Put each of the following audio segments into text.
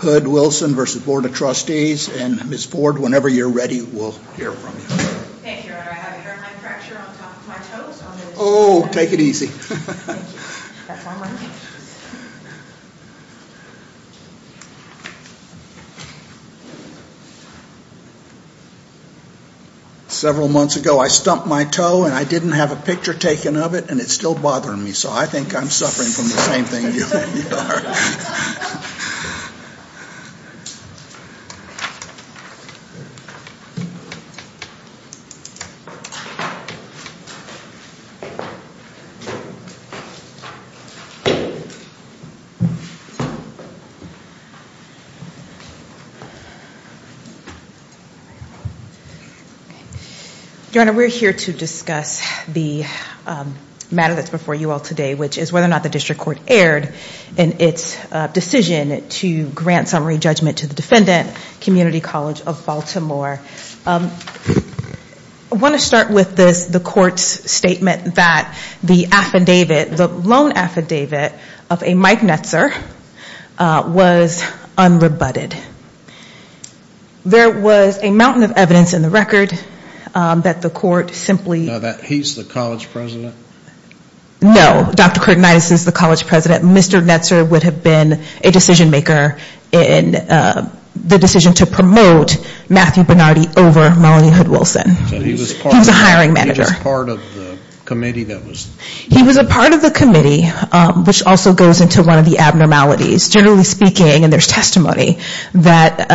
Hood-Wilson v. Board of Trustees, and Ms. Ford, whenever you're ready, we'll hear from you. Thank you. I have a hairline fracture on top of my toes. Oh, take it easy. Several months ago I stumped my toe and I didn't have a picture taken of it and it's still bothering me, so I think I'm suffering from the same thing you are. Your Honor, we're here to discuss the matter that's before you all today, which is whether or not the district court erred in its decision to grant summary judgment to the defendant, Community College of Baltimore. I want to start with the court's statement that the loan affidavit of a Mike Netzer was unrebutted. There was a mountain of evidence in the record that the court simply... Now that he's the college president? No. Dr. Curtinitis is the college president. Mr. Netzer would have been a decision maker in the decision to promote Matthew Bernardi over Melanie Hood-Wilson. He was a hiring manager. He was part of the committee that was... He was a part of the committee, which also goes into one of the abnormalities. Generally speaking, and there's testimony, that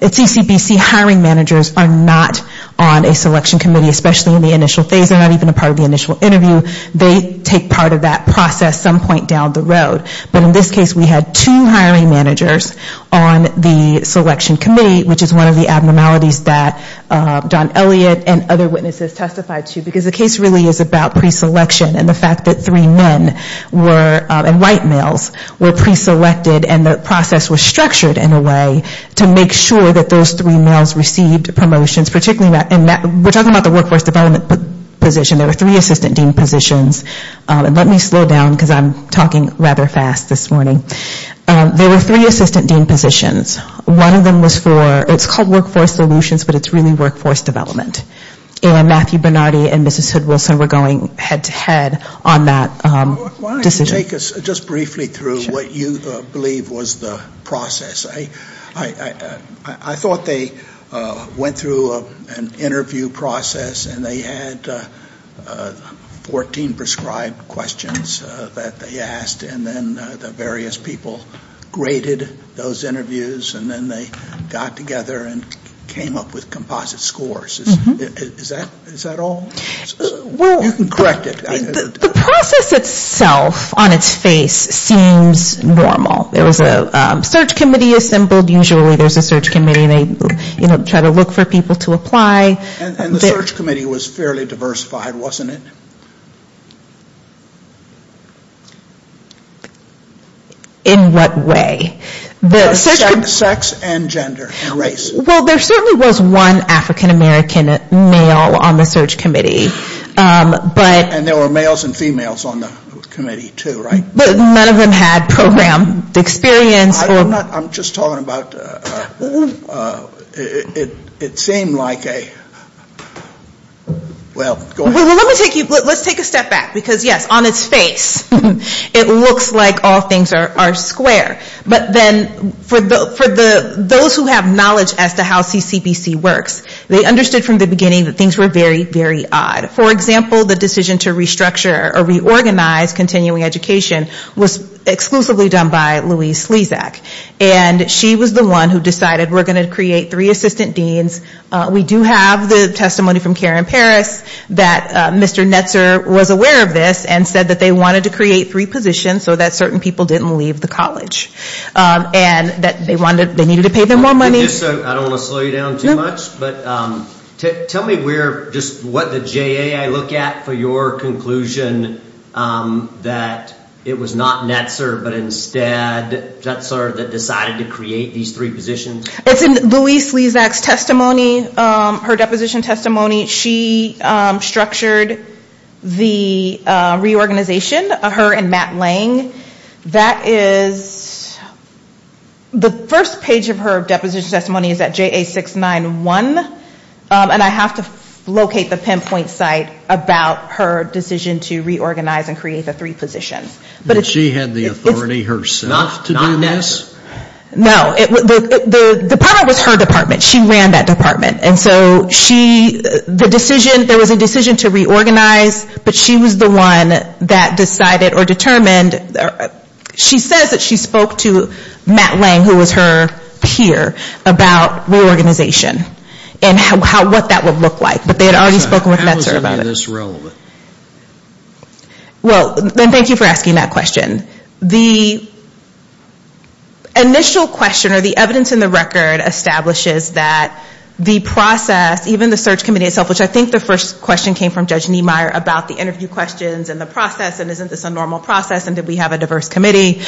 CCBC hiring managers are not on a selection committee, especially in the initial phase. They're not even a part of the initial interview. They take part of that process some point down the road. But in this case we had two hiring managers on the selection committee, which is one of the abnormalities that Don Elliott and other witnesses testified to. Because the case really is about preselection and the fact that three men were, and white males, were preselected and the process was structured in a way to make sure that those three males received promotions. We're talking about the workforce development position. There were three assistant dean positions. Let me slow down because I'm talking rather fast this morning. There were three assistant dean positions. One of them was for, it's called workforce solutions, but it's really workforce development. And Matthew Bernardi and Mrs. Hood-Wilson were going head to head on that decision. Why don't you take us just briefly through what you believe was the process. I thought they went through an interview process and they had 14 prescribed questions that they asked. And then the various people graded those interviews. And then they got together and came up with composite scores. Is that all? You can correct it. The process itself on its face seems normal. There was a search committee assembled. Usually there's a search committee and they try to look for people to apply. And the search committee was fairly diversified, wasn't it? In what way? Sex and gender and race. Well, there certainly was one African-American male on the search committee. And there were males and females on the committee too, right? But none of them had program experience. I'm just talking about, it seemed like a, well, go ahead. Let's take a step back. Because, yes, on its face it looks like all things are square. But then for those who have knowledge as to how CCBC works, they understood from the beginning that things were very, very odd. For example, the decision to restructure or reorganize continuing education was exclusively done by Louise Slezak. And she was the one who decided we're going to create three assistant deans. We do have the testimony from Karen Paris that Mr. Netzer was aware of this and said that they wanted to create three positions so that certain people didn't leave the college. And that they needed to pay them more money. Just so, I don't want to slow you down too much, but tell me where, just what the JA I look at for your conclusion that it was not Netzer, but instead Netzer that decided to create these three positions. It's in Louise Slezak's testimony, her deposition testimony. She structured the reorganization, her and Matt Lang. That is, the first page of her deposition testimony is at JA 691. And I have to locate the pinpoint site about her decision to reorganize and create the three positions. But she had the authority herself to do this? No, the department was her department. She ran that department. And so she, the decision, there was a decision to reorganize, but she was the one that decided or determined. She says that she spoke to Matt Lang, who was her peer, about reorganization. And what that would look like. But they had already spoken with Netzer about it. How is any of this relevant? Well, thank you for asking that question. The initial question or the evidence in the record establishes that the process, even the search committee itself, which I think the first question came from Judge Niemeyer about the interview questions and the process, and isn't this a normal process, and did we have a diverse committee,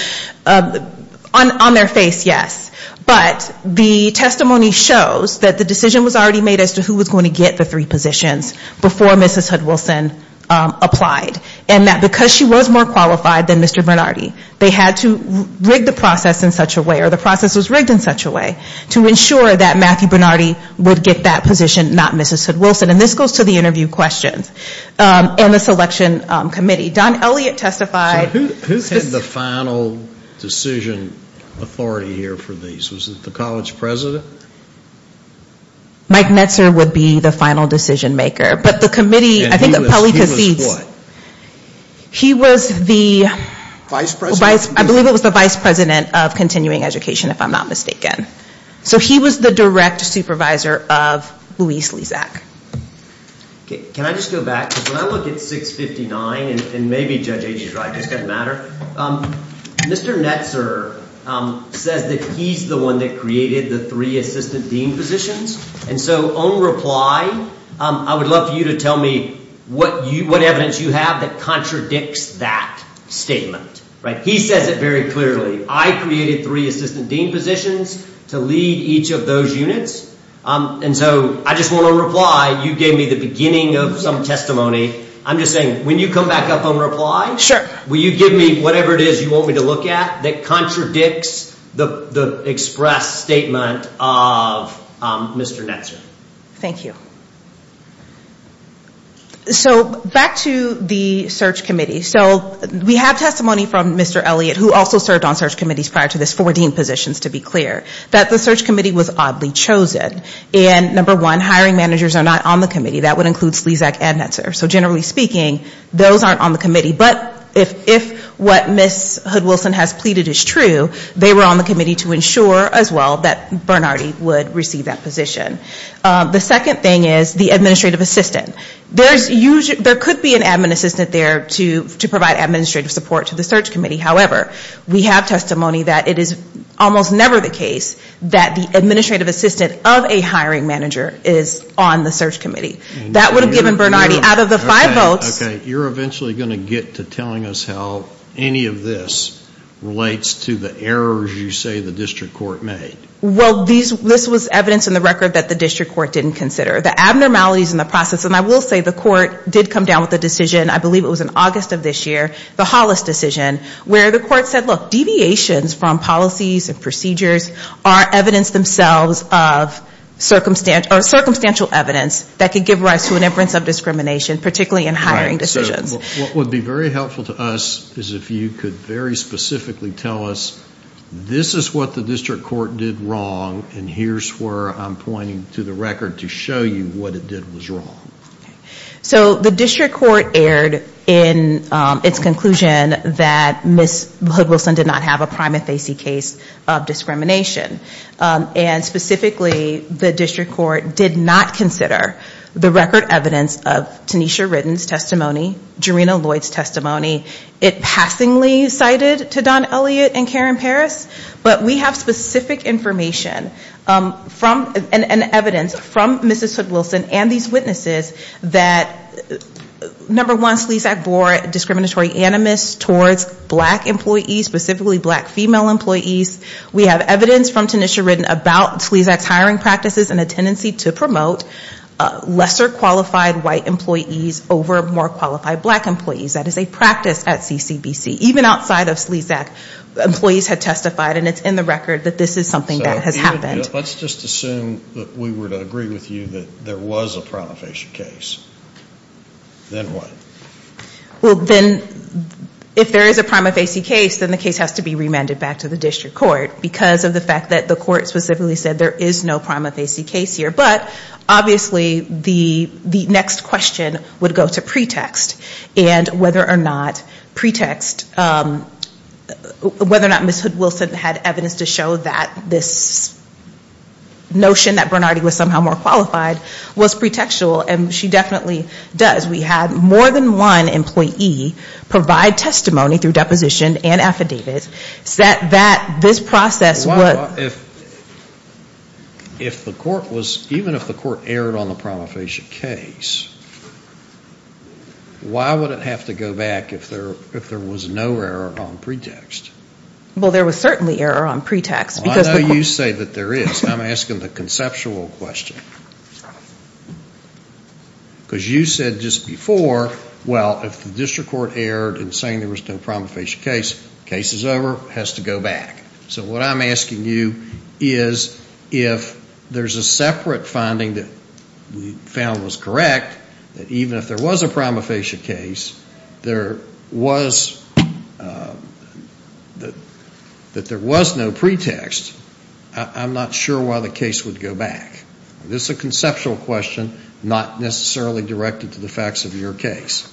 on their face, yes. But the testimony shows that the decision was already made as to who was going to get the three positions before Mrs. Hudson-Wilson applied. And that because she was more qualified than Mr. Bernardi, they had to rig the process in such a way, or the process was rigged in such a way, to ensure that Matthew Bernardi would get that position, not Mrs. Hudson-Wilson. And this goes to the interview questions. And the selection committee. Don Elliott testified. So who had the final decision authority here for these? Was it the college president? Mike Netzer would be the final decision maker. And he was what? He was the vice president of continuing education, if I'm not mistaken. So he was the direct supervisor of Luis Lizak. Can I just go back? Because when I look at 659, and maybe Judge Agee's right, it doesn't matter, Mr. Netzer says that he's the one that created the three assistant dean positions. And so on reply, I would love for you to tell me what evidence you have that contradicts that statement. He says it very clearly. I created three assistant dean positions to lead each of those units. And so I just want to reply. You gave me the beginning of some testimony. I'm just saying, when you come back up on reply, will you give me whatever it is you want me to look at that contradicts the express statement of Mr. Netzer? Thank you. So back to the search committee. So we have testimony from Mr. Elliott, who also served on search committees prior to this, four dean positions, to be clear, that the search committee was oddly chosen. And number one, hiring managers are not on the committee. That would include Lizak and Netzer. So generally speaking, those aren't on the committee. But if what Ms. Hood-Wilson has pleaded is true, they were on the committee to ensure as well that Bernardi would receive that position. The second thing is the administrative assistant. There could be an admin assistant there to provide administrative support to the search committee. However, we have testimony that it is almost never the case that the administrative assistant of a hiring manager is on the search committee. That would have given Bernardi, out of the five votes. Okay. You're eventually going to get to telling us how any of this relates to the errors you say the district court made. Well, this was evidence in the record that the district court didn't consider. The abnormalities in the process, and I will say the court did come down with a decision, I believe it was in August of this year, the Hollis decision, where the court said, look, deviations from policies and procedures are evidence themselves of circumstantial evidence that could give rise to an inference of discrimination, particularly in hiring decisions. What would be very helpful to us is if you could very specifically tell us, this is what the district court did wrong, and here's where I'm pointing to the record to show you what it did was wrong. So the district court erred in its conclusion that Ms. Hood-Wilson did not have a prima facie case of discrimination. And specifically, the district court did not consider the record evidence of Tanisha Ritten's testimony, Jarena Lloyd's testimony. It passingly cited to Don Elliott and Karen Paris, but we have specific information and evidence from Mrs. Hood-Wilson and these witnesses that, number one, Slesak bore discriminatory animus towards black employees, specifically black female employees. We have evidence from Tanisha Ritten about Slesak's hiring practices and a tendency to promote lesser qualified white employees over more qualified black employees. That is a practice at CCBC. Even outside of Slesak, employees have testified, and it's in the record, that this is something that has happened. Let's just assume that we were to agree with you that there was a prima facie case. Then what? Well, then if there is a prima facie case, then the case has to be remanded back to the district court because of the fact that the court specifically said there is no prima facie case here. But obviously, the next question would go to pretext and whether or not pretext, whether or not Ms. Hood-Wilson had evidence to show that this notion that Bernardi was somehow more qualified was pretextual. And she definitely does. We had more than one employee provide testimony through deposition and affidavits that this process was. If the court was, even if the court erred on the prima facie case, why would it have to go back if there was no error on pretext? Well, there was certainly error on pretext. I know you say that there is. I'm asking the conceptual question. Because you said just before, well, if the district court erred in saying there was no prima facie case, the case is over, it has to go back. So what I'm asking you is if there's a separate finding that we found was correct, that even if there was a prima facie case, there was no pretext, I'm not sure why the case would go back. This is a conceptual question, not necessarily directed to the facts of your case.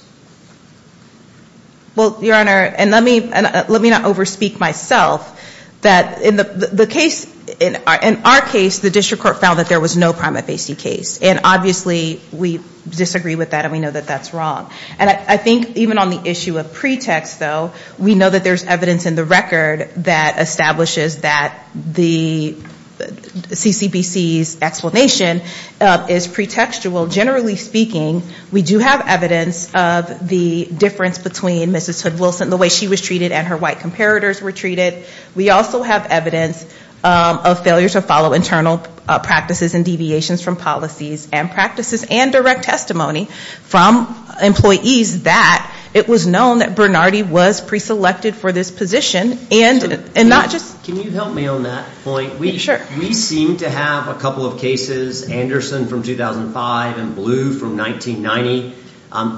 Well, Your Honor, and let me not overspeak myself, that in the case, in our case, the district court found that there was no prima facie case. And obviously we disagree with that and we know that that's wrong. And I think even on the issue of pretext, though, we know that there's evidence in the record that establishes that the CCBC's explanation is pretextual. Generally speaking, we do have evidence of the difference between Mrs. Hood-Wilson, the way she was treated and her white comparators were treated. We also have evidence of failure to follow internal practices and deviations from policies and practices and direct testimony from employees that it was known that Bernardi was preselected for this position. Can you help me on that point? We seem to have a couple of cases, Anderson from 2005 and Blue from 1990,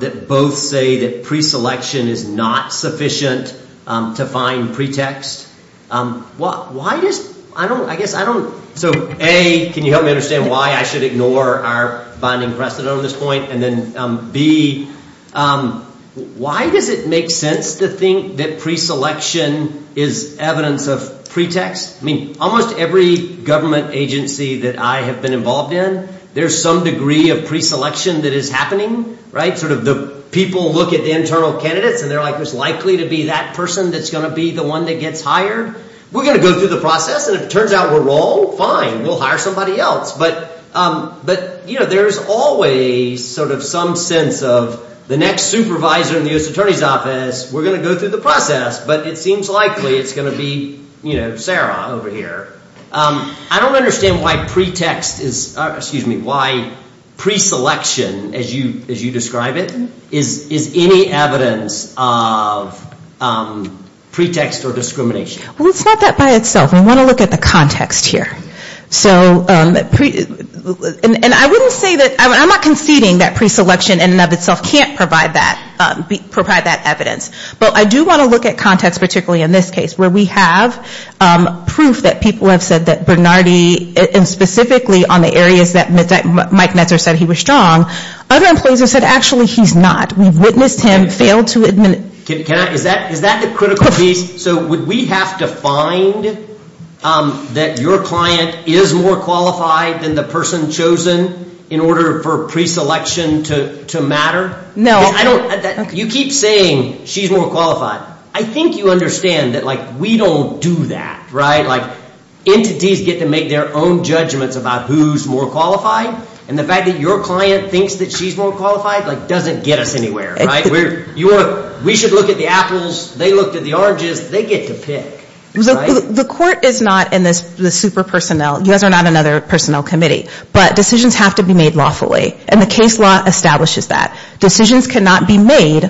that both say that preselection is not sufficient to find pretext. So, A, can you help me understand why I should ignore our binding precedent on this point? And then B, why does it make sense to think that preselection is evidence of pretext? I mean, almost every government agency that I have been involved in, there's some degree of preselection that is happening, right? Sort of the people look at the internal candidates and they're like, oh, it's likely to be that person that's going to be the one that gets hired. We're going to go through the process and if it turns out we're wrong, fine, we'll hire somebody else. But there's always sort of some sense of the next supervisor in the U.S. Attorney's Office, we're going to go through the process, but it seems likely it's going to be Sarah over here. I don't understand why pretext is, excuse me, why preselection, as you describe it, is any evidence of pretext or discrimination. Well, it's not that by itself. We want to look at the context here. And I wouldn't say that, I'm not conceding that preselection in and of itself can't provide that evidence. But I do want to look at context, particularly in this case, where we have proof that people have said that Bernardi, and specifically on the areas that Mike Netzer said he was strong, other employees have said actually he's not. We've witnessed him fail to administer. Is that the critical piece? So would we have to find that your client is more qualified than the person chosen in order for preselection to matter? No. You keep saying she's more qualified. I think you understand that we don't do that. Entities get to make their own judgments about who's more qualified, and the fact that your client thinks that she's more qualified doesn't get us anywhere. We should look at the apples. They looked at the oranges. They get to pick. The court is not in the super personnel. You guys are not another personnel committee. But decisions have to be made lawfully. And the case law establishes that. Decisions cannot be made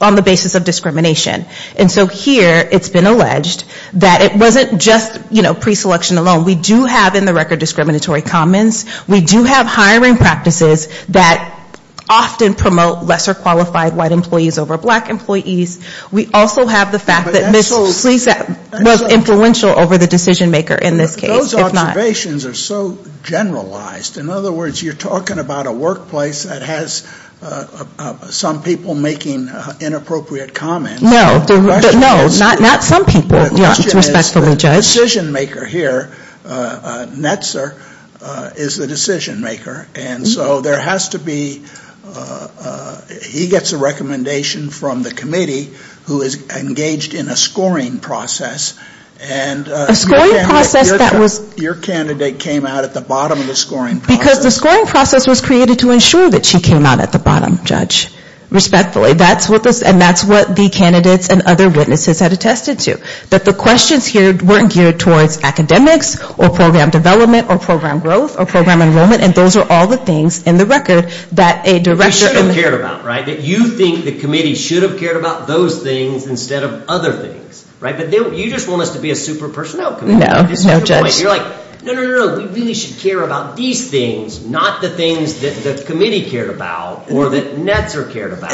on the basis of discrimination. And so here it's been alleged that it wasn't just, you know, preselection alone. We do have in the record discriminatory comments. We do have hiring practices that often promote lesser qualified white employees over black employees. We also have the fact that Ms. Sleesat was influential over the decision maker in this case. Those observations are so generalized. In other words, you're talking about a workplace that has some people making inappropriate comments. No. Not some people. The decision maker here, Netzer, is the decision maker. And so there has to be he gets a recommendation from the committee who is engaged in a scoring process. And your candidate came out at the bottom of the scoring process. Because the scoring process was created to ensure that she came out at the bottom, judge. Respectfully. And that's what the candidates and other witnesses had attested to. That the questions here weren't geared towards academics or program development or program growth or program enrollment. And those are all the things in the record that a director... That you think the committee should have cared about those things instead of other things. But you just want us to be a super personnel committee. You're like, no, no, no. We really should care about these things, not the things that the committee cared about or that Netzer cared about.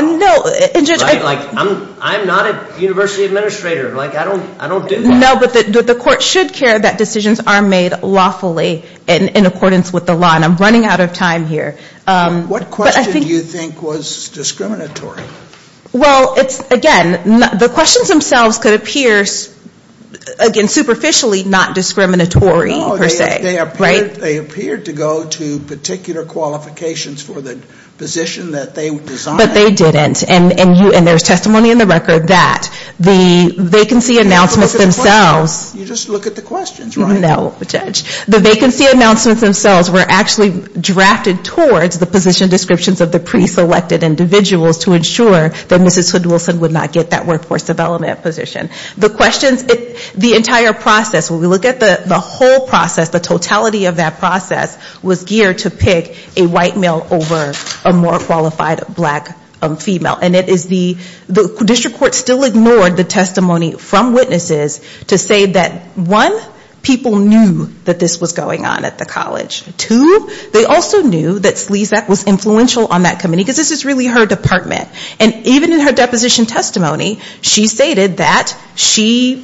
I'm not a university administrator. I don't do that. No, but the court should care that decisions are made lawfully in accordance with the law. And I'm running out of time here. What question do you think was discriminatory? Well, again, the questions themselves could appear, again, superficially not discriminatory per se. They appeared to go to particular qualifications for the position that they designed. But they didn't. And there's testimony in the record that the vacancy announcements themselves... You just look at the questions, right? No, judge. The vacancy announcements themselves were actually drafted towards the position descriptions of the preselected individuals to ensure that Mrs. Hudson-Wilson would not get that workforce development position. The questions, the entire process, when we look at the whole process, the totality of that process, was geared to pick a white male over a more qualified black female. And it is the district court still ignored the testimony from witnesses to say that, one, people knew that this was going on at the college. Two, they also knew that Slezak was influential on that committee, because this is really her department. And even in her deposition testimony, she stated that she,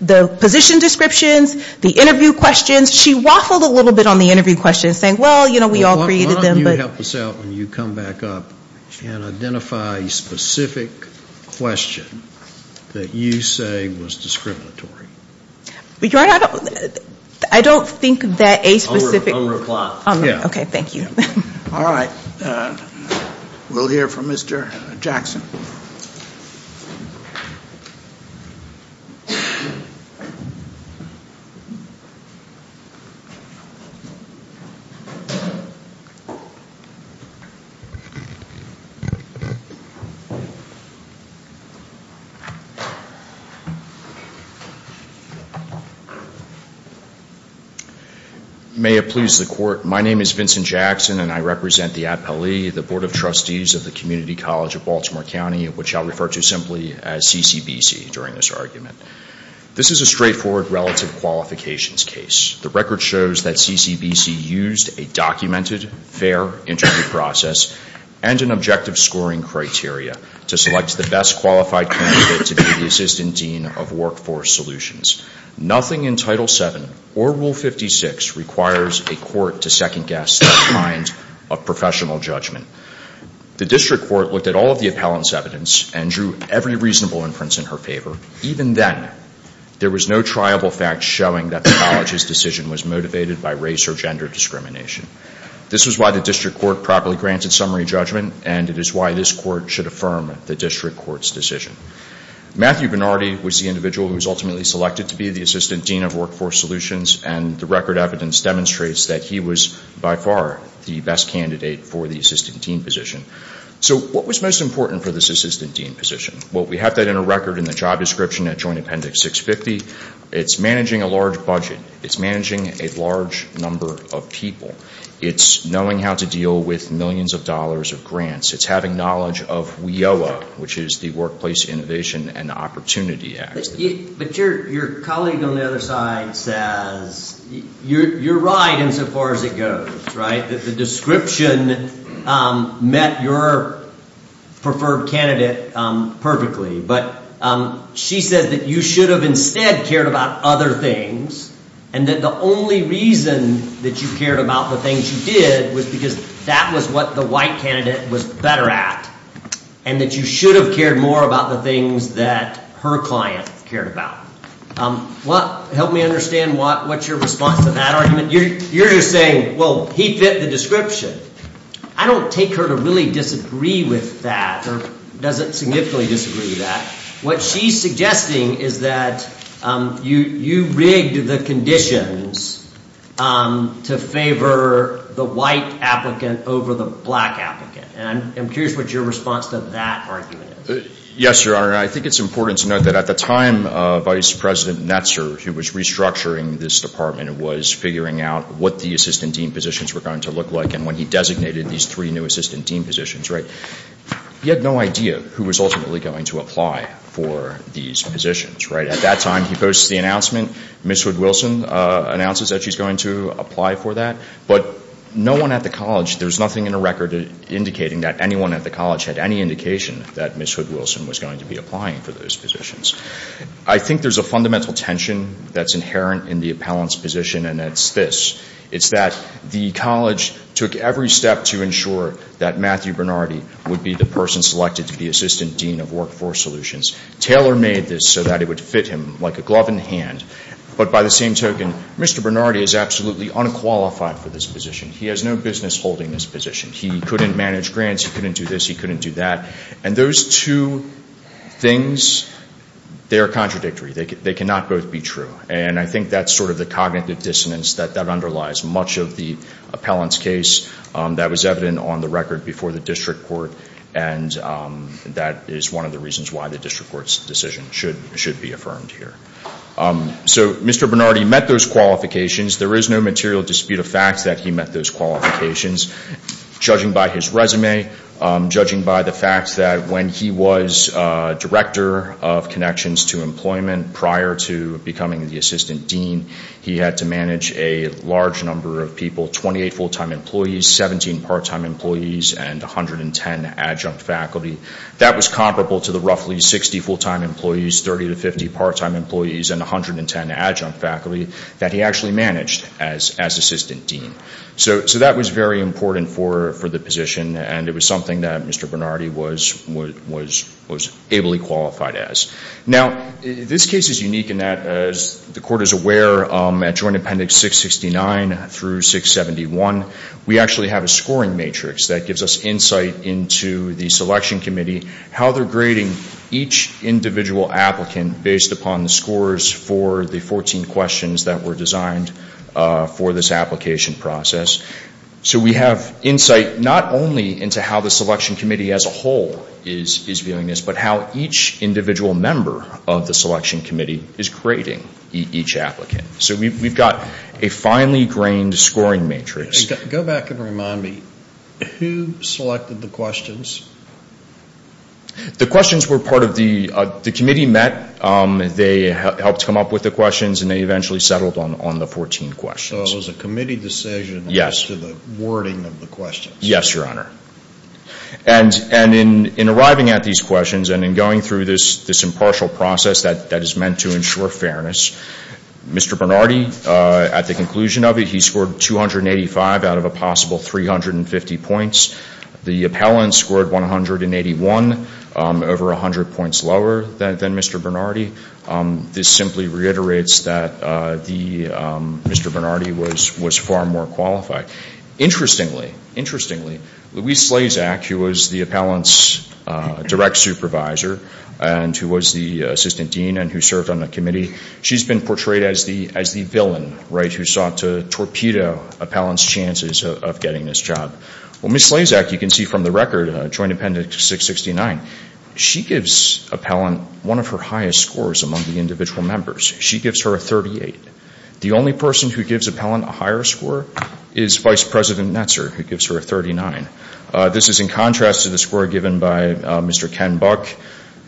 the position descriptions, the interview questions, she waffled a little bit on the interview questions. Saying, well, you know, we all created them, but... Why don't you help us out when you come back up and identify a specific question that you say was discriminatory? I don't think that a specific... I'll reply. Okay. Thank you. May it please the court. My name is Vincent Jackson, and I represent the APLE, the Board of Trustees of the Community College of Baltimore County, which I'll refer to simply as CCBC during this argument. This is a straightforward relative qualifications case. The record shows that CCBC used a documented, fair interview process and an objective scoring criteria to select the best qualified candidate to be the Assistant Dean of Workforce Solutions. Nothing in Title VII or Rule 56 requires a court to second-guess that kind of professional judgment. The district court looked at all of the appellant's evidence and drew every reasonable inference in her favor, even then there was no triable fact showing that the college's decision was motivated by race or gender discrimination. This is why the district court properly granted summary judgment, and it is why this court should affirm the district court's decision. Matthew Benardi was the individual who was ultimately selected to be the Assistant Dean of Workforce Solutions, and the record evidence demonstrates that he was by far the best candidate for the Assistant Dean position. So what was most important for this Assistant Dean position? Well, we have that in a record in the job description at Joint Appendix 650. It's managing a large budget. It's managing a large number of people. It's knowing how to deal with millions of dollars of grants. It's having knowledge of WIOA, which is the Workplace Innovation and Opportunity Act. But your colleague on the other side says you're right insofar as it goes, right? The description met your preferred candidate perfectly, but she says that you should have instead cared about other things, and that the only reason that you cared about the things you did was because that was what the white candidate was better at, and that you should have cared more about the things that her client cared about. Help me understand what's your response to that argument. You're just saying, well, he fit the description. I don't take her to really disagree with that, or doesn't significantly disagree with that. What she's suggesting is that you rigged the conditions to favor the white applicant over the black applicant. And I'm curious what your response to that argument is. Yes, Your Honor. I think it's important to note that at the time Vice President Netzer, who was restructuring this department and was figuring out what the assistant dean positions were going to look like, and when he designated these three new assistant dean positions, right, he had no idea who was ultimately going to apply for these positions, right? At that time, he posts the announcement. Ms. Hood-Wilson announces that she's going to apply for that. But no one at the college, there's nothing in the record indicating that anyone at the college had any indication that Ms. Hood-Wilson was going to be applying for those positions. I think there's a fundamental tension that's inherent in the appellant's position, and it's this. It's that the college took every step to ensure that Matthew Bernardi would be the person selected to be assistant dean of workforce solutions. Taylor made this so that it would fit him like a glove in hand. But by the same token, Mr. Bernardi is absolutely unqualified for this position. He has no business holding this position. He couldn't manage grants. He couldn't do this. He couldn't do that. And those two things, they are contradictory. They cannot both be true. And I think that's sort of the cognitive dissonance that underlies much of the appellant's case. That was evident on the record before the district court. And that is one of the reasons why the district court's decision should be affirmed here. So Mr. Bernardi met those qualifications. There is no material dispute of fact that he met those qualifications. Judging by his resume, judging by the fact that when he was director of connections to employment prior to becoming the assistant dean, he had to manage a large number of people, 28 full-time employees, 17 part-time employees, and 110 adjunct faculty. That was comparable to the roughly 60 full-time employees, 30 to 50 part-time employees, and 110 adjunct faculty that he actually managed as assistant dean. So that was very important for the position, and it was something that Mr. Bernardi was ably qualified as. Now, this case is unique in that, as the court is aware, at Joint Appendix 669 through 671, we actually have a scoring matrix that gives us insight into the selection committee, how they're grading each individual applicant based upon the scores for the 14 questions that were designed for this application process. So we have insight not only into how the selection committee as a whole is viewing this, but how each individual member of the selection committee is grading each applicant. So we've got a finely grained scoring matrix. Go back and remind me, who selected the questions? The questions were part of the, the committee met, they helped come up with the questions, and they eventually settled on the 14 questions. So it was a committee decision as to the wording of the questions? Yes, Your Honor. And in arriving at these questions and in going through this impartial process that is meant to ensure fairness, Mr. Bernardi, at the conclusion of it, he scored 285 out of a possible 350 points. The appellant scored 181, over 100 points lower than Mr. Bernardi. This simply reiterates that Mr. Bernardi was far more qualified. Interestingly, interestingly, Louise Slazak, who was the appellant's direct supervisor and who was the assistant dean and who served on the committee, she's been portrayed as the villain, right, who sought to torpedo appellant's chances of getting this job. Well, Ms. Slazak, you can see from the record, Joint Appendix 669, she gives appellant one of her highest scores among the individual members. She gives her a 38. The only person who gives appellant a higher score is Vice President Netzer, who gives her a 39. This is in contrast to the score given by Mr. Ken Buck,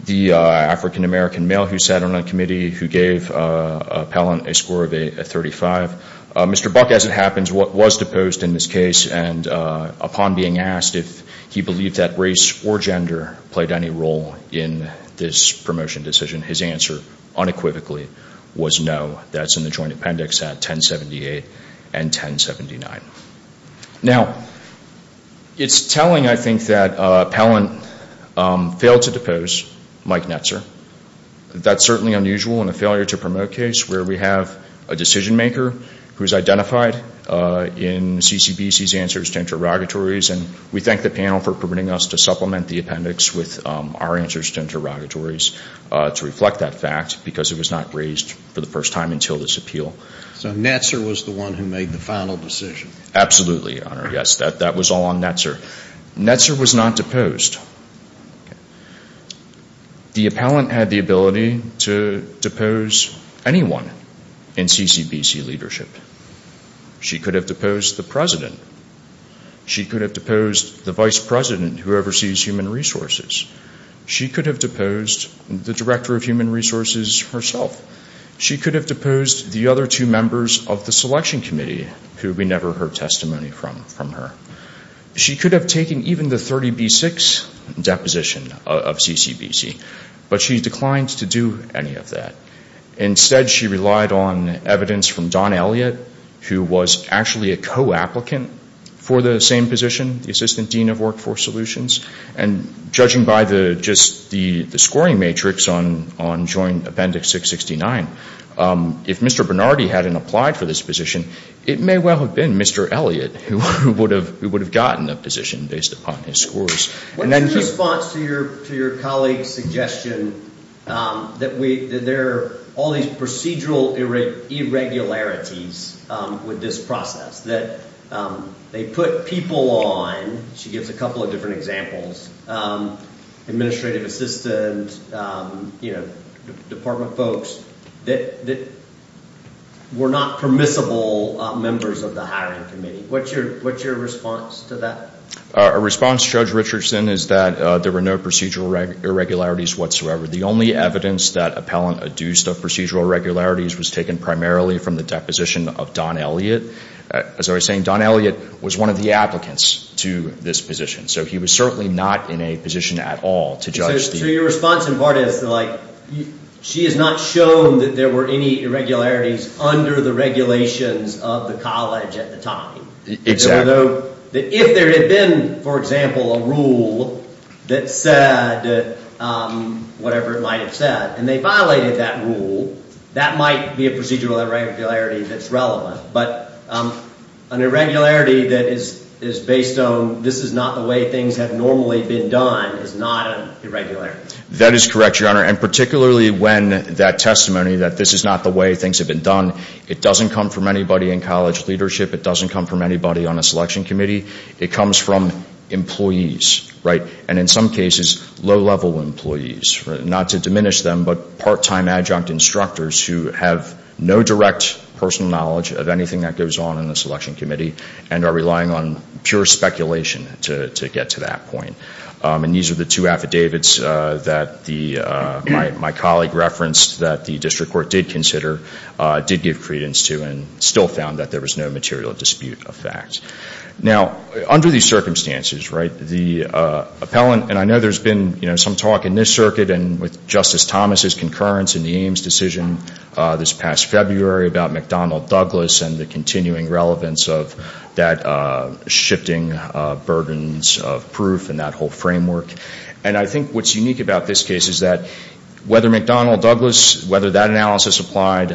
the African American male who sat on the committee who gave appellant a score of a 35. Mr. Buck, as it happens, was deposed in this case and upon being asked if he believed that race or gender played any role in this promotion decision, his answer unequivocally was no. That's in the Joint Appendix at 1078 and 1079. Now, it's telling, I think, that appellant failed to depose Mike Netzer. That's certainly unusual in a failure to promote case where we have a decision maker who's identified in CCBC's answers to interrogatories and we thank the panel for permitting us to supplement the appendix with our answers to interrogatories to reflect that fact because it was not raised for the first time until this appeal. So Netzer was the one who made the final decision? Absolutely, Your Honor, yes. That was all on Netzer. Netzer was not deposed. The appellant had the ability to depose anyone in CCBC leadership. She could have deposed the President. She could have deposed the Vice President who oversees Human Resources. She could have deposed the Director of Human Resources herself. She could have deposed the other two members of the Selection Committee who we never heard testimony from her. She could have taken even the 30B6 deposition of CCBC, but she declined to do any of that. Instead, she relied on evidence from Don Elliott, who was actually a co-applicant for the same position, the Assistant Dean of Workforce Solutions. And judging by the scoring matrix on Joint Appendix 669, if Mr. Bernardi hadn't applied for this position, it may well have been Mr. Elliott who would have gotten the position based upon his scores. What's your response to your colleague's suggestion that there are all these procedural irregularities with this process? That they put people on, she gives a couple of different examples, administrative assistants, department folks, that were not permissible members of the hiring committee. What's your response to that? Our response, Judge Richardson, is that there were no procedural irregularities whatsoever. The only evidence that appellant adduced of procedural irregularities was taken primarily from the deposition of Don Elliott. As I was saying, Don Elliott was one of the applicants to this position, so he was certainly not in a position at all to judge the... So your response, in part, is that she has not shown that there were any irregularities under the regulations of the college at the time. Exactly. If there had been, for example, a rule that said whatever it might have said, and they violated that rule, that might be a procedural irregularity that's relevant. But an irregularity that is based on this is not the way things have normally been done is not an irregularity. That is correct, Your Honor, and particularly when that testimony that this is not the way things have been done, it doesn't come from anybody in college leadership. It doesn't come from anybody on a selection committee. It comes from employees, right? And in some cases, low-level employees, not to diminish them, but part-time adjunct instructors who have no direct personal knowledge of anything that goes on in the selection committee and are relying on pure speculation to get to that point. And these are the two affidavits that my colleague referenced that the district court did consider, did give credence to, and still found that there was no material dispute of fact. Now, under these circumstances, the appellant, and I know there's been some talk in this circuit and with Justice Thomas' concurrence in the Ames decision this past February about McDonnell-Douglas and the continuing relevance of that shifting burdens of proof and that whole framework. And I think what's unique about this case is that whether McDonnell-Douglas, whether that analysis applied,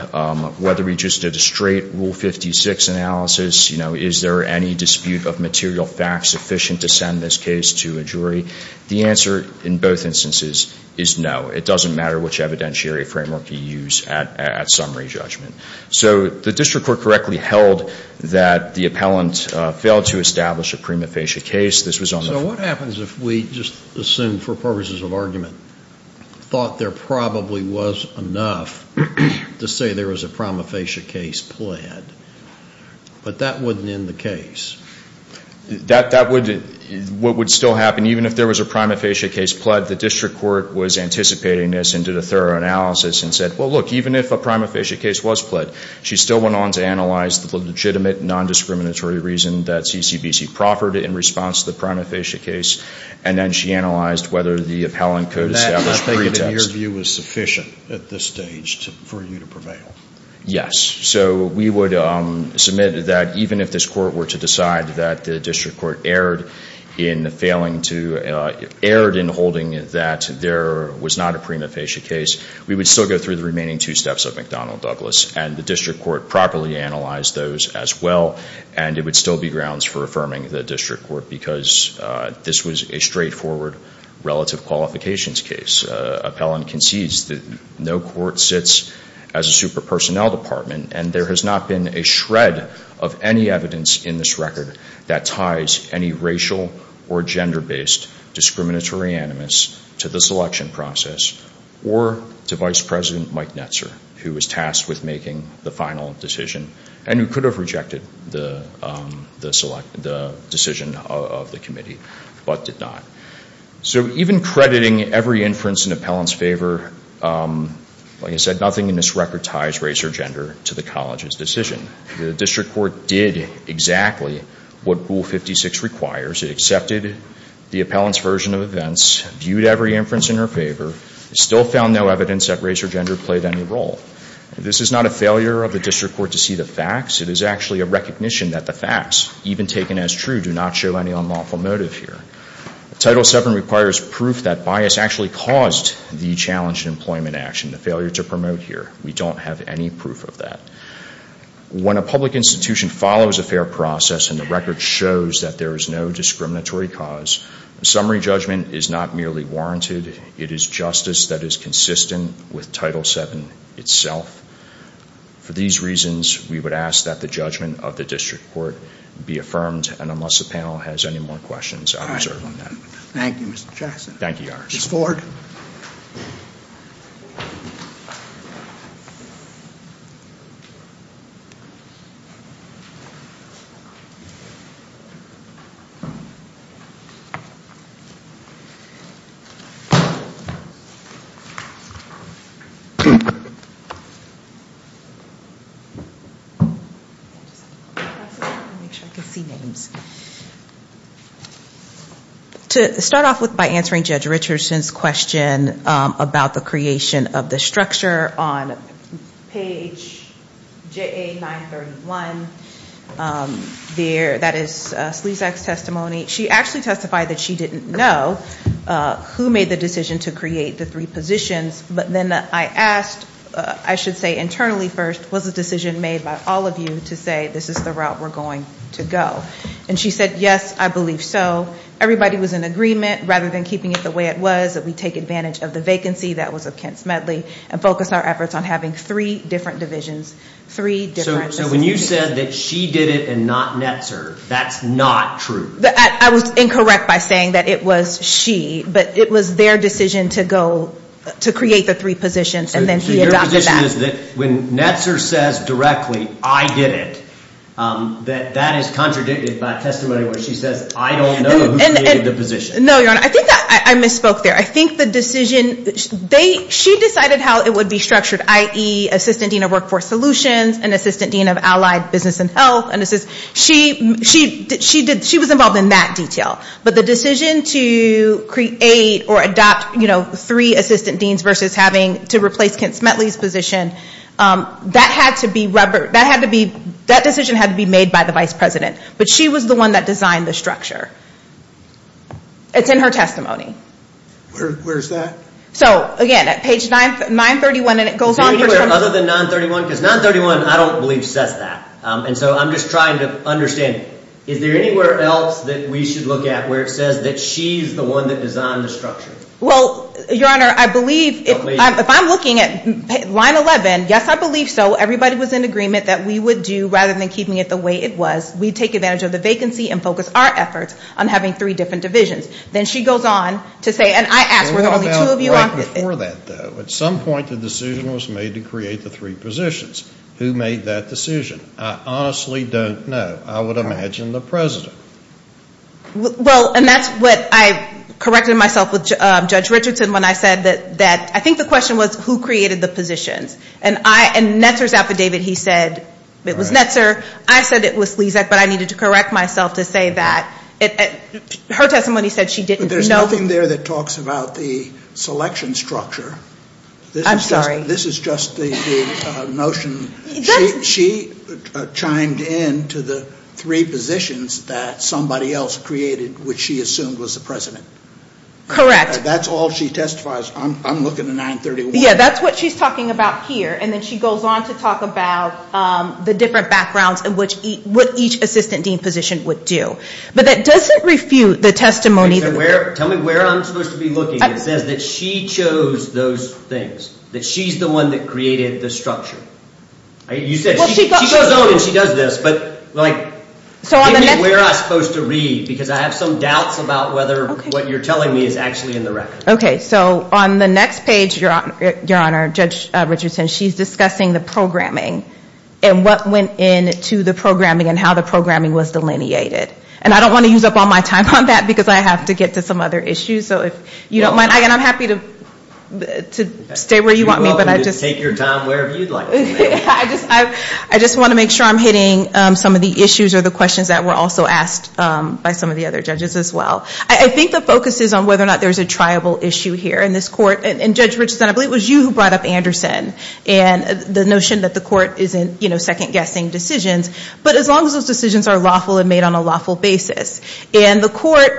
whether we just did a straight Rule 56 analysis, you know, is there any dispute of material fact sufficient to send this case to a jury, the answer in both instances is no. It doesn't matter which evidentiary framework you use at summary judgment. So the district court correctly held that the appellant failed to establish a prima facie case. This was on the floor. So what happens if we just assume for purposes of argument thought there probably was enough to say there was a prima facie case pled, but that wouldn't end the case? That would what would still happen, even if there was a prima facie case pled, the district court was anticipating this and did a thorough analysis and said, well, look, even if a prima facie case was pled, she still went on to analyze the legitimate non-discriminatory reason that CCBC proffered in response to the prima facie case, and then she analyzed whether the appellant could establish pretext. That, in your view, was sufficient at this stage for you to prevail? Yes. So we would submit that even if this court were to decide that the district court erred in holding that there was not a prima facie case, we would still go through the remaining two steps of McDonnell-Douglas, and the district court properly analyzed those as well, and it would still be grounds for affirming the district court because this was a straightforward relative qualifications case. As this appellant concedes, no court sits as a super-personnel department, and there has not been a shred of any evidence in this record that ties any racial or gender-based discriminatory animus to the selection process or to Vice President Mike Netzer, who was tasked with making the final decision, and who could have rejected the decision of the committee, but did not. So even crediting every inference in the appellant's favor, like I said, nothing in this record ties race or gender to the college's decision. The district court did exactly what Rule 56 requires. It accepted the appellant's version of events, viewed every inference in her favor, and still found no evidence that race or gender played any role. This is not a failure of the district court to see the facts. It is actually a recognition that the facts, even taken as true, do not show any unlawful motive here. Title VII requires proof that bias actually caused the challenge in employment action, the failure to promote here. We don't have any proof of that. When a public institution follows a fair process and the record shows that there is no discriminatory cause, summary judgment is not merely warranted. It is justice that is consistent with Title VII itself. For these reasons, we would ask that the judgment of the district court be affirmed, and unless the panel has any more questions, I would serve on that. Thank you, Mr. Jackson. Thank you, Your Honor. Ms. Ford? To start off with by answering Judge Richardson's question about the creation of the structure, on page JA-931, that is Sleazack's testimony. She actually testified that she didn't know who made the decision to create the three positions, but then I asked, I should say internally first, was the decision made by all of you to say this is the route we're going to go? And she said, yes, I believe so. Everybody was in agreement, rather than keeping it the way it was, that we take advantage of the vacancy, that was of Kent Smedley, and focus our efforts on having three different divisions. So when you said that she did it and not Netzer, that's not true? I was incorrect by saying that it was she, but it was their decision to go, to create the three positions, and then he adopted that. So your position is that when Netzer says directly, I did it, that that is contradicted by testimony where she says, I don't know who created the position. No, Your Honor, I think I misspoke there. I think the decision, she decided how it would be structured, i.e., Assistant Dean of Workforce Solutions, and Assistant Dean of Allied Business and Health. She was involved in that detail. But the decision to create or adopt three assistant deans, versus having to replace Kent Smedley's position, that had to be, that decision had to be made by the Vice President. But she was the one that designed the structure. It's in her testimony. Where's that? So again, at page 931, and it goes on for time. Is there anywhere other than 931? Because 931, I don't believe, says that. And so I'm just trying to understand, is there anywhere else that we should look at where it says that she's the one that designed the structure? Well, Your Honor, I believe, if I'm looking at line 11, yes, I believe so. Everybody was in agreement that we would do, rather than keeping it the way it was, we'd take advantage of the vacancy and focus our efforts on having three different divisions. Then she goes on to say, and I ask, were there only two of you on? At some point the decision was made to create the three positions. Who made that decision? I honestly don't know. I would imagine the President. Well, and that's what I corrected myself with Judge Richardson when I said that, I think the question was, who created the positions? And Netzer's affidavit, he said, it was Netzer. I said it was Slezak, but I needed to correct myself to say that. Her testimony said she didn't know. But there's nothing there that talks about the selection structure. I'm sorry. This is just the notion. She chimed in to the three positions that somebody else created, which she assumed was the President. Correct. That's all she testifies. I'm looking at 931. Yeah, that's what she's talking about here. And then she goes on to talk about the different backgrounds and what each assistant dean position would do. But that doesn't refute the testimony. Tell me where I'm supposed to be looking. It says that she chose those things. That she's the one that created the structure. She goes on and she does this, but give me where I'm supposed to read, because I have some doubts about whether what you're telling me is actually in the record. Okay, so on the next page, Your Honor, Judge Richardson, she's discussing the programming and what went into the programming and how the programming was delineated. And I don't want to use up all my time on that, because I have to get to some other issues. And I'm happy to stay where you want me. You're welcome to take your time wherever you'd like. I just want to make sure I'm hitting some of the issues or the questions that were also asked by some of the other judges as well. I think the focus is on whether or not there's a triable issue here in this court. And Judge Richardson, I believe it was you who brought up Anderson and the notion that the court is in second-guessing decisions. But as long as those decisions are lawful and made on a lawful basis. And the court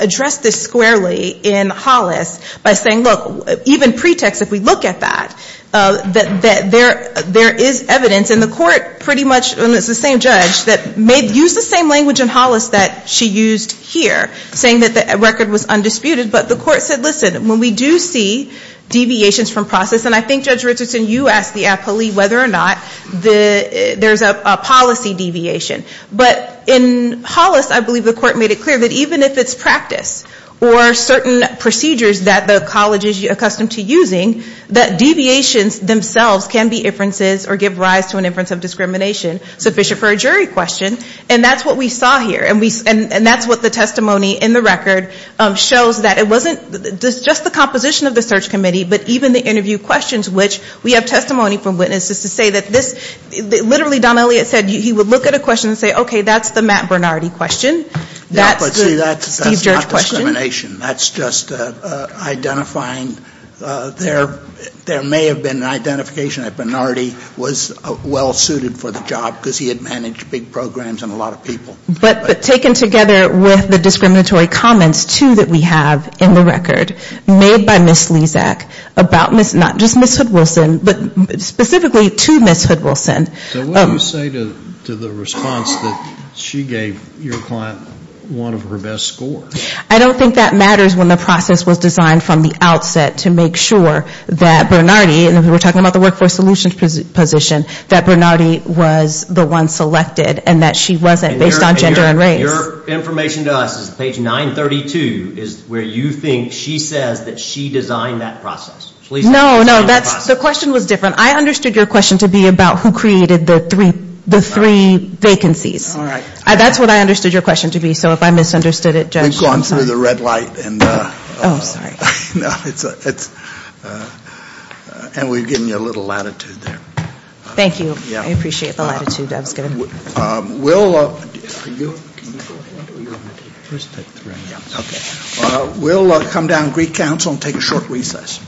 addressed this squarely in Hollis by saying, look, even pretext, if we look at that, that there is evidence. And the court pretty much, and it's the same judge, used the same language in Hollis that she used here, saying that the record was undisputed. But the court said, listen, when we do see deviations from process, and I think, Judge Richardson, you asked the appellee whether or not there's a policy deviation. But in Hollis, I believe the court made it clear that even if it's practice or certain procedures that the college is accustomed to using, that deviations themselves can be inferences or give rise to an inference of discrimination sufficient for a jury question. And that's what we saw here. And that's what the testimony in the record shows that it wasn't just the composition of the search committee, but even the interview questions, which we have testimony from witnesses to say that this, literally Don Elliott said he would look at a question and say, okay, that's the Matt Bernardi question. That's the Steve Judge question. That's not discrimination. That's just identifying, there may have been an identification that Bernardi was well suited for the job because he had managed big programs and a lot of people. But taken together with the discriminatory comments, too, that we have in the record made by Ms. Lezak about, not just Ms. Hood-Wilson, but specifically to Ms. Hood-Wilson. So what do you say to the response that she gave your client one of her best scores? I don't think that matters when the process was designed from the outset to make sure that Bernardi, and we were talking about the workforce solutions position, that Bernardi was the one selected and that she wasn't based on gender and race. Your information to us is page 932 is where you think she says that she designed that process. No, no, the question was different. I understood your question to be about who created the three vacancies. That's what I understood your question to be. So if I misunderstood it, Judge, I'm sorry. We've gone through the red light and we've given you a little latitude there. Thank you. I appreciate the latitude that was given. We'll come down Greek Council and take a short recess.